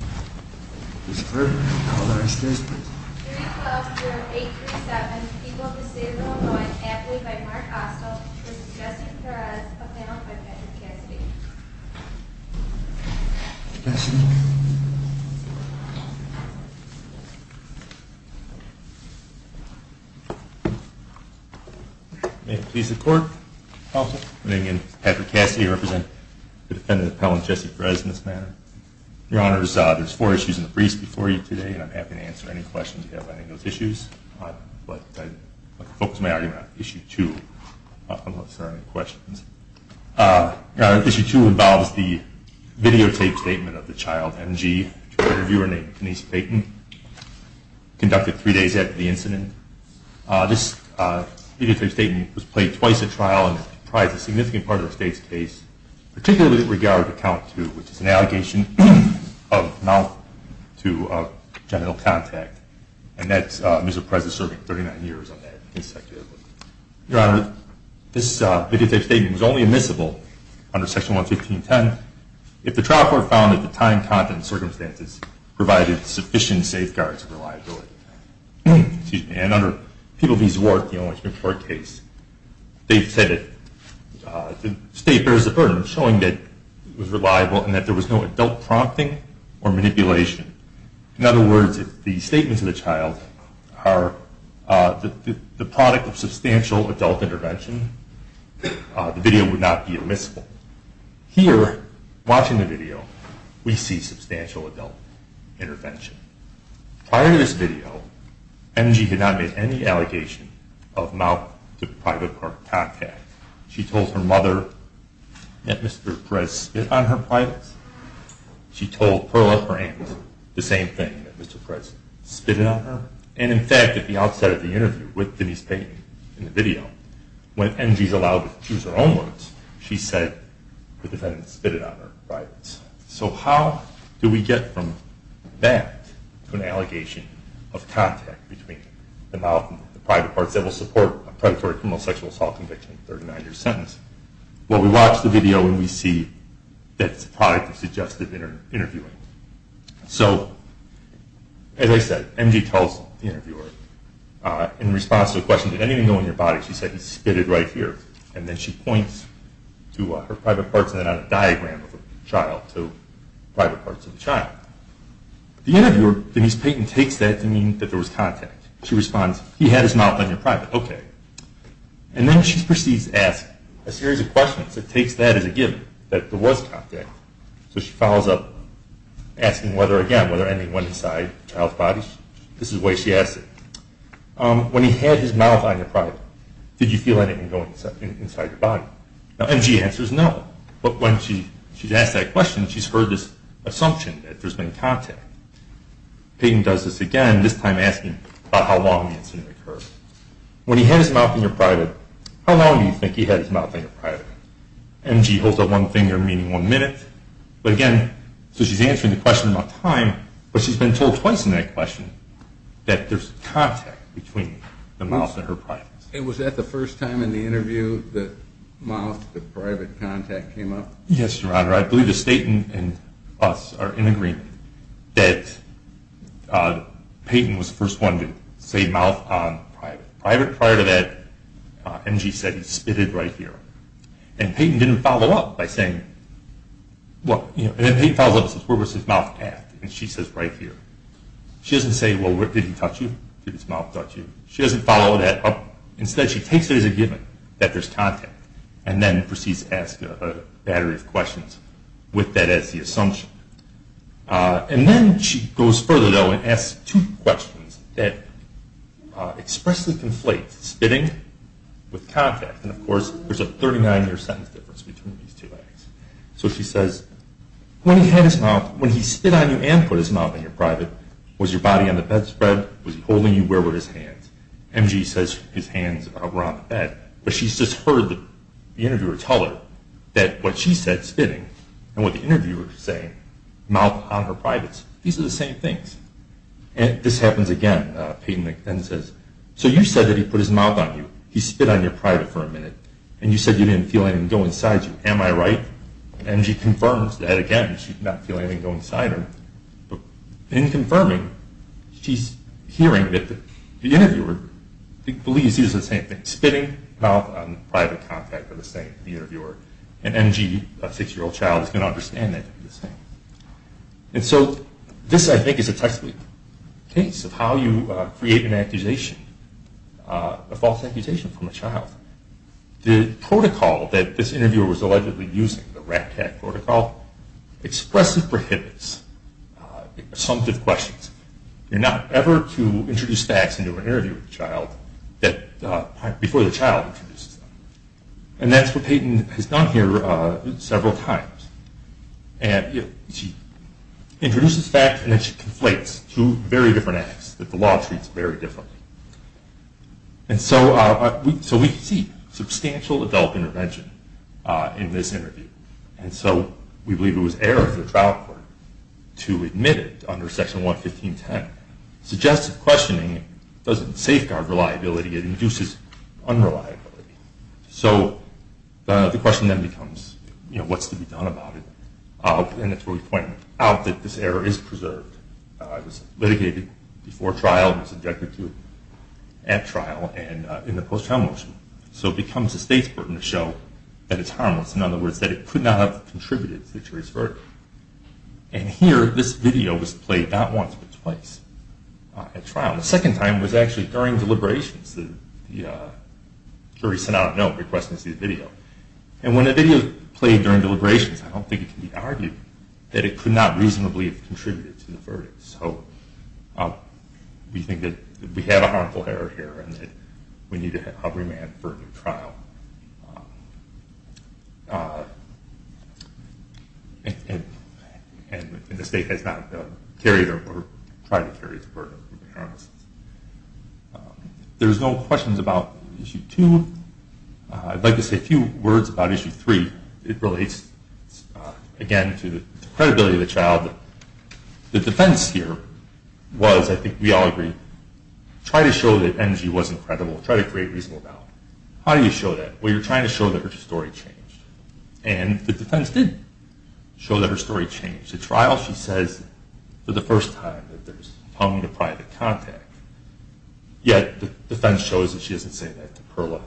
May it please the Court. Counsel. Good evening. Patrick Cassidy here to represent the defendant's There's four issues in the briefs before you today, and I'm happy to answer any questions you have on any of those issues. But I'd like to focus my argument on issue two, unless there are any questions. Issue two involves the videotaped statement of the child, MG, to an interviewer named Denise Payton, conducted three days after the incident. This videotaped statement was played twice at trial and probably is a significant part of the state's case, particularly with regard to count two, which is an allegation of mouth-to-genital contact. And Ms. Perez is serving 39 years on that case. Your Honor, this videotaped statement was only admissible under Section 115.10 if the trial court found that the time, content, and circumstances provided sufficient safeguards and reliability. And under People v. Zwart, the only Supreme Court case, they've said that the state bears the burden of showing that it was reliable and that there was no adult prompting or manipulation. In other words, if the statements of the child are the product of substantial adult intervention, the video would not be admissible. Here, watching the video, we see substantial adult intervention. Prior to this video, MG had not made any allegation of mouth-to-private contact. She told her mother that Mr. Perez spit on her privates. She told Pearl at her ankles the same thing, that Mr. Perez spit on her. And in fact, at the outset of the interview with Denise Payton in the video, when MG's allowed to use her own words, she said the defendant spit on her privates. So how do we get from that to an allegation of contact between the mouth and the private parts that will support a predatory criminal sexual assault conviction in a 39-year sentence? Well, we watch the video, and we see that it's the product of suggestive interviewing. So as I said, MG tells the interviewer, in response to the question, did anything go in your body, she said, he spit it right here. And then she points to her private parts, and then on a diagram of the child, to private parts of the child. The interviewer, Denise Payton, takes that to mean that there was contact. She responds, he had his mouth on your private. Okay. And then she proceeds to ask a series of questions that takes that as a given, that there was contact. So she follows up asking whether, again, whether anything went inside the child's body. This is the way she asks it. When he had his mouth on your private, did you feel anything going inside your body? Now, MG answers no. But when she's asked that question, she's heard this assumption that there's been contact. Payton does this again, this time asking about how long the incident occurred. When he had his mouth on your private, how long do you think he had his mouth on your private? MG holds up one finger, meaning one minute. But again, so she's answering the question about time, but she's been told twice in that question that there's contact between the mouth and her private. And was that the first time in the interview the mouth, the private contact, came up? Yes, Your Honor. I believe the state and us are in agreement that Payton was the first one to say mouth on private. Private prior to that, MG said he spit it right here. And Payton didn't follow up by saying, well, you know, and then Payton follows up and says, where was his mouth at? And she says right here. She doesn't say, well, did he touch you? Did his mouth touch you? She doesn't follow that up. Instead, she takes it as a given that there's contact and then proceeds to ask a battery of questions with that as the assumption. And then she goes further, though, and asks two questions that expressly conflate spitting with contact. And of course, there's a 39-year sentence difference between these two acts. So she says, when he had his mouth, when he spit on you and put his mouth on your private, was your body on the bedspread? Was he holding you? Where were his hands? MG says his hands were on the bed. But she's just heard the interviewer tell her that what she said, spitting, and what the interviewer was saying, mouth on her privates, these are the same things. And this happens again. Payton then says, so you said that he put his mouth on you. He spit on your private for a minute. And you said you didn't feel anything go inside you. Am I right? And she confirms that again. She did not feel anything go inside her. In confirming, she's hearing that the interviewer believes these are the same things. Spitting, mouth on, private contact are the same for the interviewer. And MG, a six-year-old child, is going to understand that to be the same. And so this, I think, is a textbook case of how you create an accusation, a false accusation from a child. The protocol that this interviewer was allegedly using, the RAPTAC protocol, expressly prohibits assumptive questions. You're not ever to introduce facts into an interview with a child before the child introduces them. And that's what Payton has done here several times. And she introduces facts, and then she conflates two very different acts that the law treats very differently. And so we see substantial adult intervention in this interview. And so we believe it was error of the trial court to admit it under Section 115.10. Suggestive questioning doesn't safeguard reliability. It induces unreliability. So the question then becomes, you know, what's to be done about it? And that's where we point out that this error is preserved. It was litigated before trial and subjected to at trial and in the post-trial motion. So it becomes a state's burden to show that it's harmless. In other words, that it could not have contributed to the jury's verdict. And here, this video was played not once but twice at trial. The second time was actually during deliberations. The jury sent out a note requesting to see the video. And when a video is played during deliberations, I don't think it can be argued that it could not reasonably have contributed to the verdict. So we think that we have a harmful error here and that we need to have remand for a new trial. And the state has not carried or tried to carry this burden. There's no questions about Issue 2. I'd like to say a few words about Issue 3. It relates, again, to the credibility of the child. The defense here was, I think we all agree, try to show that NG wasn't credible. Try to create reasonable doubt. How do you show that? Well, you're trying to show that her story changed. And the defense did show that her story changed. At trial, she says for the first time that there's hung to private contact. Yet the defense shows that she doesn't say that to Perla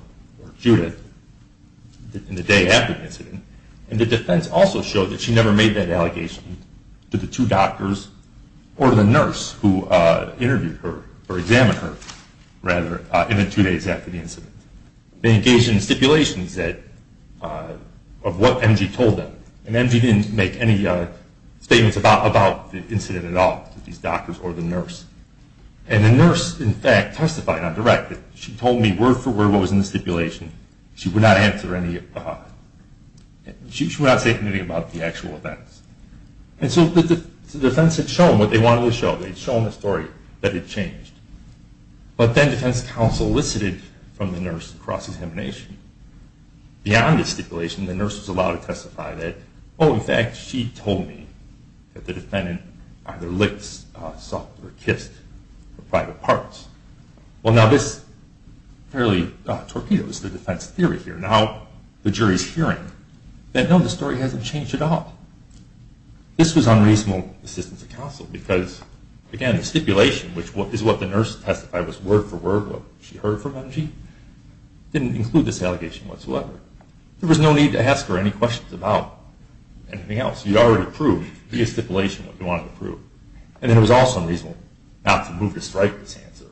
or Judith. In the day after the incident. And the defense also showed that she never made that allegation to the two doctors or to the nurse who interviewed her or examined her in the two days after the incident. They engaged in stipulations of what NG told them. And NG didn't make any statements about the incident at all to these doctors or the nurse. And the nurse, in fact, testified on direct that she told me word for word what was in the stipulation. She would not say anything about the actual events. And so the defense had shown what they wanted to show. They had shown the story that it changed. But then defense counsel elicited from the nurse across examination. Beyond the stipulation, the nurse was allowed to testify that, oh, in fact, she told me that the defendant either licked, sucked, or kissed private parts. Well, now this really torpedoes the defense theory here. Now the jury's hearing that, no, the story hasn't changed at all. This was unreasonable assistance of counsel because, again, the stipulation, which is what the nurse testified was word for word what she heard from NG, didn't include this allegation whatsoever. There was no need to ask her any questions about anything else. You already proved via stipulation what you wanted to prove. And then it was also unreasonable not to move to strike this answer.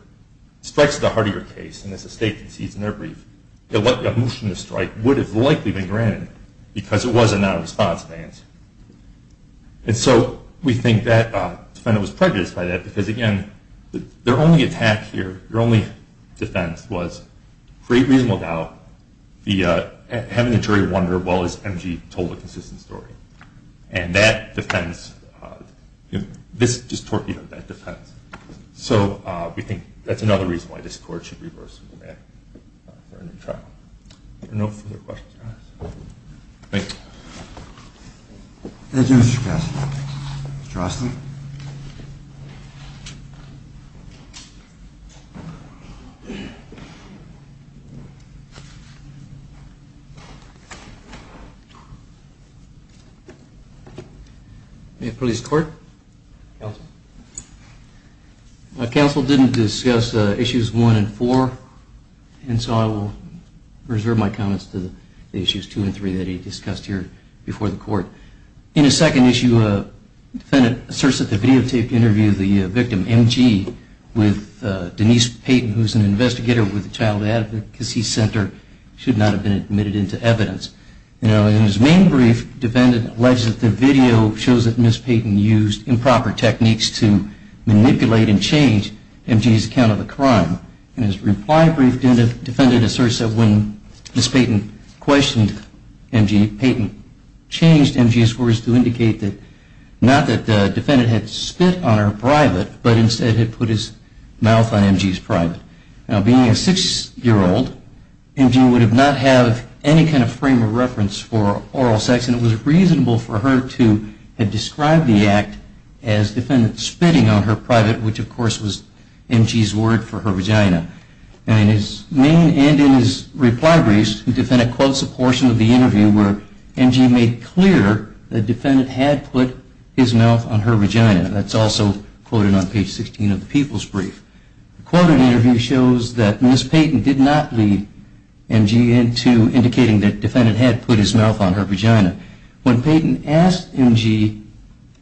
Strikes are the heart of your case, and as the state concedes in their brief, a motion to strike would have likely been granted because it was a non-responsive answer. And so we think that the defendant was prejudiced by that because, again, their only attack here, their only defense was, for a reasonable doubt, having the jury wonder, well, has NG told a consistent story? And that defends this torpedo. That defends. So we think that's another reason why this court should reverse the command for a new trial. Are there no further questions or comments? Thank you. Thank you, Mr. Cassidy. Mr. Austin. May I please court? Counsel. Counsel didn't discuss issues one and four, and so I will reserve my comments to the issues two and three that he discussed here before the court. In his second issue, the defendant asserts that the videotaped interview of the victim, NG, with Denise Payton, who is an investigator with the Child Advocacy Center, should not have been admitted into evidence. In his main brief, the defendant alleges that the video shows that Ms. Payton used improper techniques to manipulate and change NG's account of the crime. In his reply brief, the defendant asserts that when Ms. Payton questioned NG, Payton changed NG's words to indicate not that the defendant had spit on her private, but instead had put his mouth on NG's private. Now, being a six-year-old, NG would not have any kind of frame of reference for oral sex, and it was reasonable for her to have described the act as defendant spitting on her private, which, of course, was NG's word for her vagina. In his main and in his reply briefs, the defendant quotes a portion of the interview where NG made clear that the defendant had put his mouth on her vagina. The quote in the interview shows that Ms. Payton did not lead NG into indicating that the defendant had put his mouth on her vagina. When Payton asked NG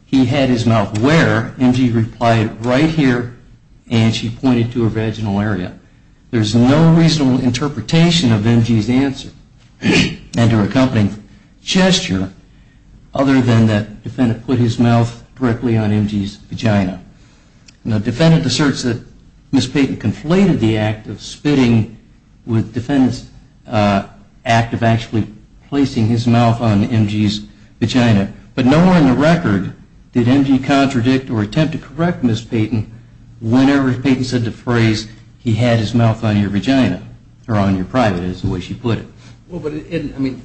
he had his mouth where, NG replied, right here, and she pointed to her vaginal area. There is no reasonable interpretation of NG's answer and her accompanying gesture other than that the defendant put his mouth directly on NG's vagina. Now, the defendant asserts that Ms. Payton conflated the act of spitting with the defendant's act of actually placing his mouth on NG's vagina, but nowhere in the record did NG contradict or attempt to correct Ms. Payton whenever Payton said the phrase, he had his mouth on your vagina, or on your private is the way she put it. Well, but it isn't, I mean,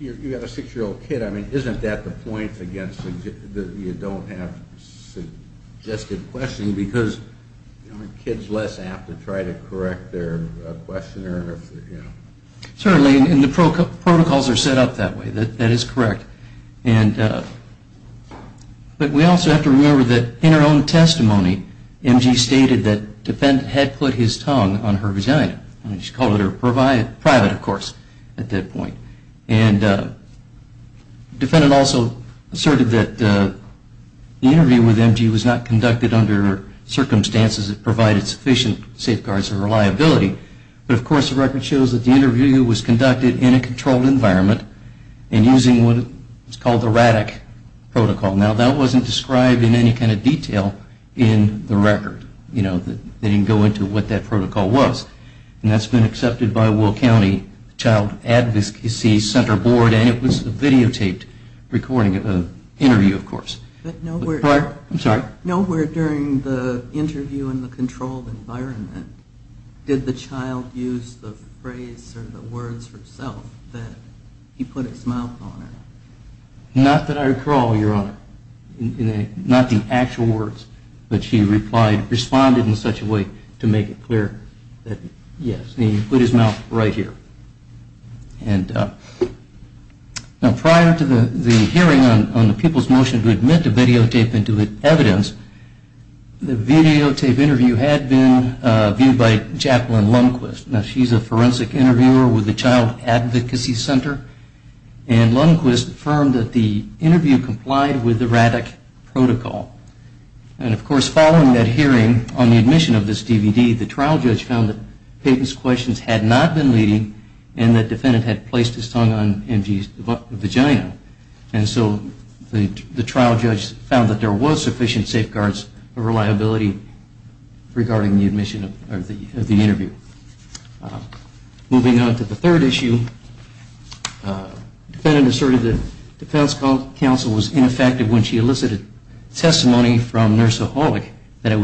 you have a six-year-old kid, isn't that the point against you don't have suggestive questioning because kids are less apt to try to correct their questioner? Certainly, and the protocols are set up that way. That is correct. But we also have to remember that in her own testimony NG stated that the defendant had put his tongue on her vagina. She called it her private, of course, at that point. And the defendant also asserted that the interview with NG was not conducted under circumstances that provided sufficient safeguards or reliability, but of course the record shows that the interview was conducted in a controlled environment and using what is called the RADC protocol. Now, that wasn't described in any kind of detail in the record. They didn't go into what that protocol was, and that's been accepted by Will County Child Advocacy Center Board, and it was videotaped recording an interview, of course. Nowhere during the interview in the controlled environment did the child use the phrase or the words herself that he put his mouth on her. Not that I recall, Your Honor, not the actual words, but she responded in such a way to make it clear that, yes, he put his mouth right here. Now, prior to the hearing on the people's motion to admit to videotape and to evidence, the videotape interview had been viewed by Jacqueline Lundquist. Now, she's a forensic interviewer with the Child Advocacy Center, and Lundquist affirmed that the interview complied with the RADC protocol. And, of course, following that hearing on the admission of this DVD, the trial judge found that Peyton's questions had not been leading and that the defendant had placed his tongue on MG's vagina. And so the trial judge found that there was sufficient safeguards of reliability regarding the admission of the interview. Moving on to the third issue, the defendant asserted that defense counsel was ineffective when she elicited testimony from Nurse Aholic that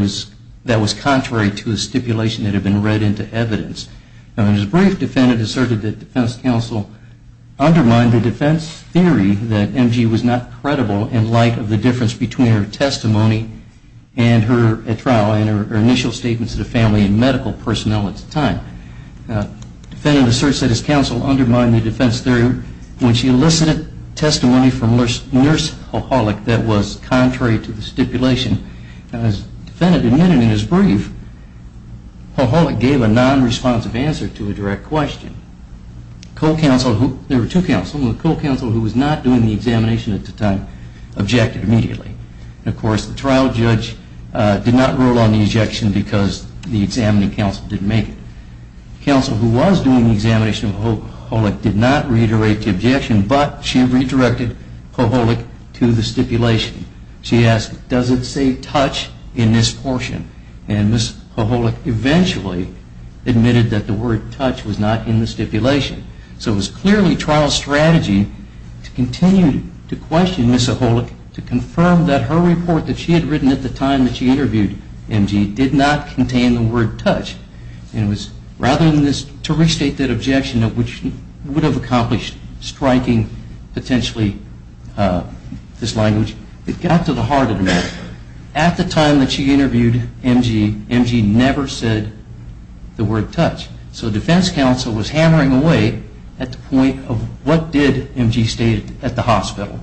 was contrary to the stipulation that had been read into evidence. Now, in his brief, the defendant asserted that defense counsel undermined the defense theory that MG was not credible in light of the difference between her testimony and her trial and her initial statements to the family and medical personnel at the time. The defendant asserts that his counsel undermined the defense theory when she elicited testimony from Nurse Aholic that was contrary to the stipulation. As the defendant admitted in his brief, Aholic gave a non-responsive answer to a direct question. There were two counsels, and the co-counsel who was not doing the examination at the time objected immediately. And, of course, the trial judge did not rule on the objection because the examining counsel didn't make it. The counsel who was doing the examination of Aholic did not reiterate the objection, but she redirected Aholic to the stipulation. She asked, does it say touch in this portion? And Nurse Aholic eventually admitted that the word touch was not in the stipulation. So it was clearly trial strategy to continue to question Nurse Aholic to confirm that her report that she had written at the time that she interviewed M.G. did not contain the word touch. Rather than to restate that objection, which would have accomplished striking, potentially, this language, it got to the heart of the matter. At the time that she interviewed M.G., M.G. never said the word touch. So defense counsel was hammering away at the point of what did M.G. state at the hospital.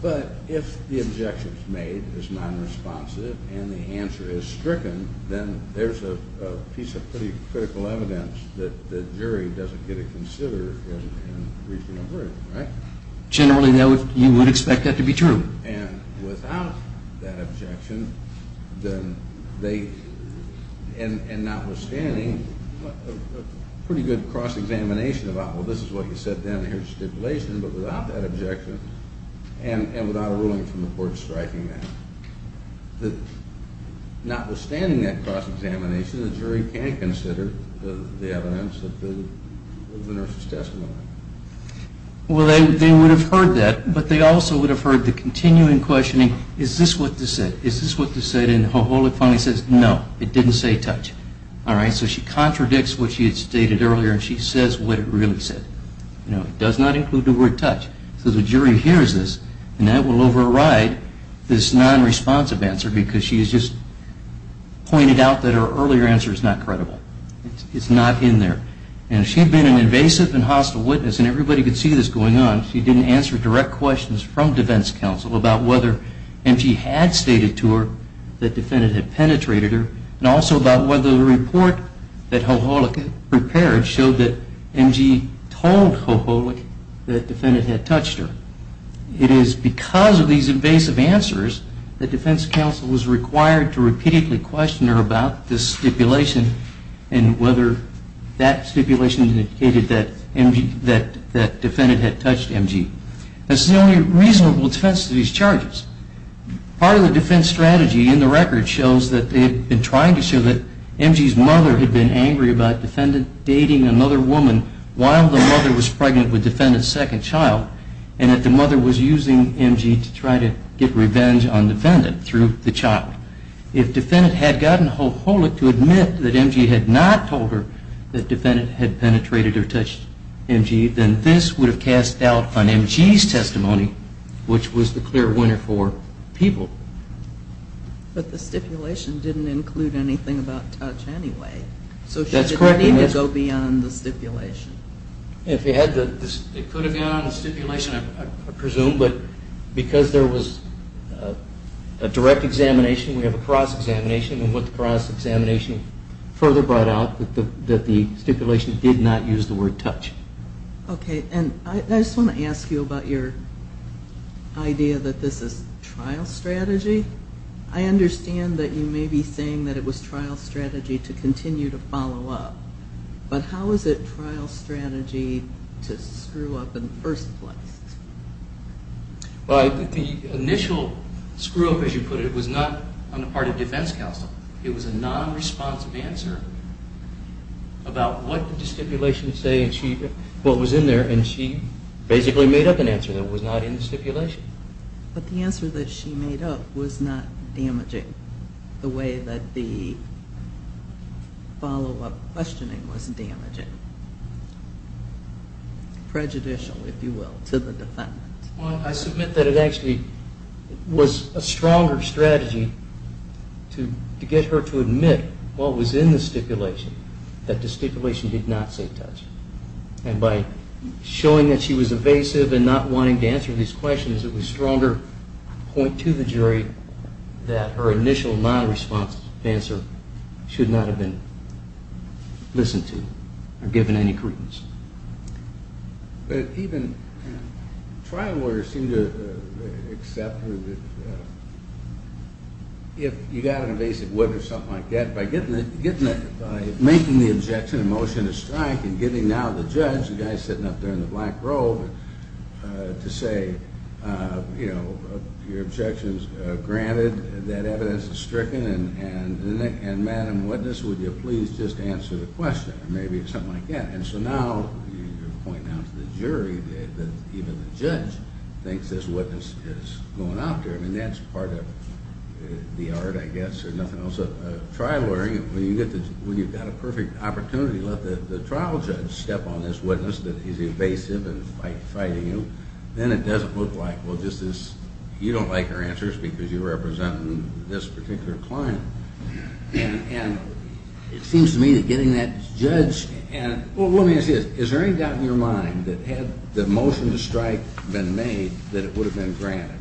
But if the objection is made, is nonresponsive, and the answer is stricken, then there's a piece of pretty critical evidence that the jury doesn't get to consider in reaching a verdict. Generally, you would expect that to be true. And without that objection, and notwithstanding, a pretty good cross-examination about, well, this is what you said down here in the stipulation, but without that objection, and without a ruling from the court striking that, notwithstanding that cross-examination, the jury can't consider the evidence of the nurse's testimony. Well, they would have heard that, but they also would have heard the continuing questioning, is this what this said? Is this what this said? And Aholic finally says, no, it didn't say touch. All right, so she contradicts what she had stated earlier, and she says what it really said. It does not include the word touch. So the jury hears this, and that will override this nonresponsive answer, because she has just pointed out that her earlier answer is not credible. It's not in there. And if she had been an invasive and hostile witness, and everybody could see this going on, if she didn't answer direct questions from defense counsel about whether M.G. had stated to her that the defendant had penetrated her, and also about whether the report that Aholic prepared showed that M.G. told Aholic that the defendant had touched her, it is because of these invasive answers that defense counsel was required to repeatedly question her about this stipulation and whether that stipulation indicated that the defendant had touched M.G. That's the only reasonable defense to these charges. Part of the defense strategy in the record shows that they had been trying to show that M.G.'s mother had been angry about defendant dating another woman while the mother was pregnant with defendant's second child, and that the mother was using M.G. to try to get revenge on defendant through the child. If defendant had gotten Aholic to admit that M.G. had not told her that defendant had penetrated or touched M.G., then this would have cast doubt on M.G.'s testimony, which was the clear winner for people. But the stipulation didn't include anything about touch anyway. So she didn't need to go beyond the stipulation. It could have gone beyond the stipulation, I presume, but because there was a direct examination, we have a cross-examination, and what the cross-examination further brought out was that the stipulation did not use the word touch. Okay, and I just want to ask you about your idea that this is trial strategy. I understand that you may be saying that it was trial strategy to continue to follow up, but how is it trial strategy to screw up in the first place? Well, I think the initial screw-up, as you put it, was not on the part of defense counsel. It was a non-responsive answer about what the stipulation was saying, what was in there, and she basically made up an answer that was not in the stipulation. But the answer that she made up was not damaging the way that the follow-up questioning was damaging, prejudicial, if you will, to the defendant. Well, I submit that it actually was a stronger strategy to get her to admit what was in the stipulation, that the stipulation did not say touch, and by showing that she was evasive and not wanting to answer these questions, it was a stronger point to the jury that her initial non-responsive answer should not have been listened to or given any credence. But even trial lawyers seem to accept that if you got an evasive witness or something like that, by making the objection and motion to strike and giving now the judge, the guy sitting up there in the black robe, to say, you know, your objection is granted, that evidence is stricken, and Madam Witness, would you please just answer the question, or maybe something like that. And so now you're pointing out to the jury that even the judge thinks this witness is going out there. I mean, that's part of the art, I guess, or nothing else. A trial lawyer, when you've got a perfect opportunity to let the trial judge step on this witness that is evasive and fighting you, then it doesn't look like, well, you don't like her answers because you're representing this particular client. And it seems to me that getting that judge and, well, let me ask you this. Is there any doubt in your mind that had the motion to strike been made, that it would have been granted?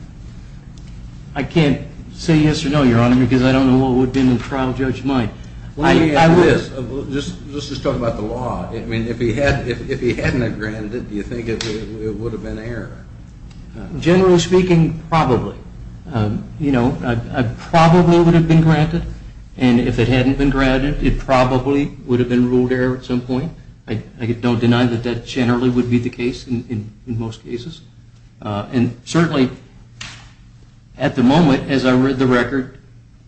I can't say yes or no, Your Honor, because I don't know what would have been the trial judge's mind. Let me ask you this. Let's just talk about the law. I mean, if he hadn't have granted it, do you think it would have been error? Generally speaking, probably. You know, probably it would have been granted. And if it hadn't been granted, it probably would have been ruled error at some point. I don't deny that that generally would be the case in most cases. And certainly at the moment, as I read the record,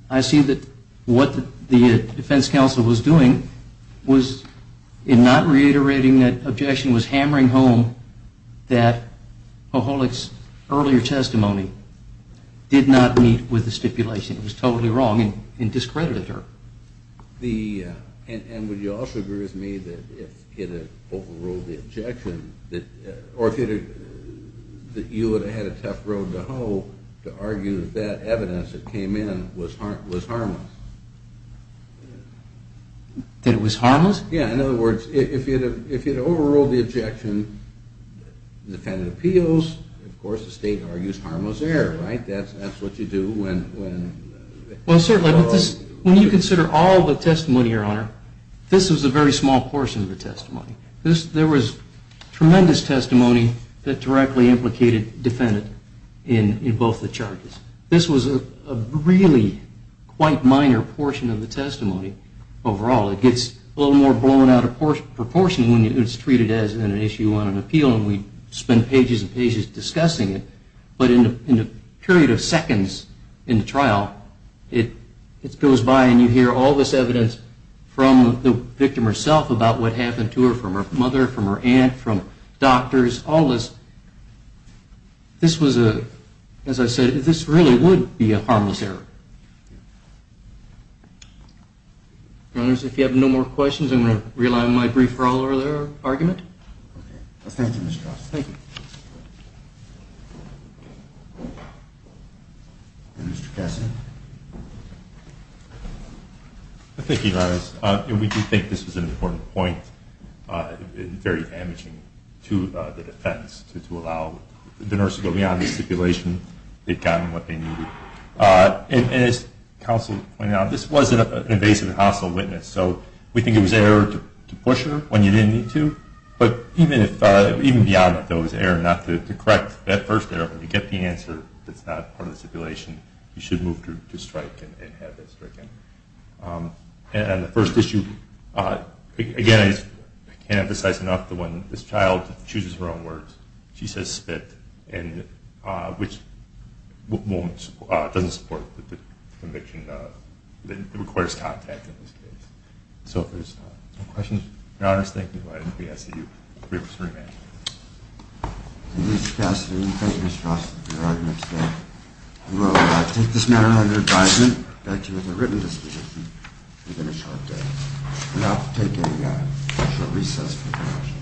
I see that what the defense counsel was doing was in not reiterating that objection, was hammering home that Poholik's earlier testimony did not meet with the stipulation. It was totally wrong and discredited her. And would you also agree with me that if it had overruled the objection, or that you would have had a tough road to hoe to argue that that evidence that came in was harmless? That it was harmless? Yeah, in other words, if it had overruled the objection, the defendant appeals. Of course, the state argues harmless error, right? That's what you do when... Well, certainly, when you consider all the testimony, Your Honor, this was a very small portion of the testimony. There was tremendous testimony that directly implicated defendant in both the charges. This was a really quite minor portion of the testimony overall. It gets a little more blown out of proportion when it's treated as an issue on an appeal, and we spend pages and pages discussing it. But in a period of seconds in the trial, it goes by and you hear all this evidence from the victim herself about what happened to her, from her mother, from her aunt, from doctors, all this. This was a... As I said, this really would be a harmless error. Your Honor, if you have no more questions, I'm going to reline my brief for all earlier argument. Okay. Thank you, Mr. Cross. Thank you. Mr. Kessler. Thank you, Your Honor. We do think this was an important point. It's very damaging to the defense to allow the nurse to go beyond the stipulation. They've gotten what they needed. And as counsel pointed out, this was an invasive and hostile witness, so we think it was an error to push her when you didn't need to. But even beyond that, though, it was an error not to correct that first error. When you get the answer that's not part of the stipulation, you should move to strike and have it stricken. And the first issue, again, I can't emphasize enough the one, this child chooses her own words. She says spit, which doesn't support the conviction. It requires contact in this case. So if there's no questions, Your Honor, I just thank you for letting me ask you three minutes. Thank you, Mr. Kessler. Thank you, Mr. Cross, for your argument today. We will take this matter under advisement. Thank you for the written disposition within a short day. And I'll take a short recess from the commission.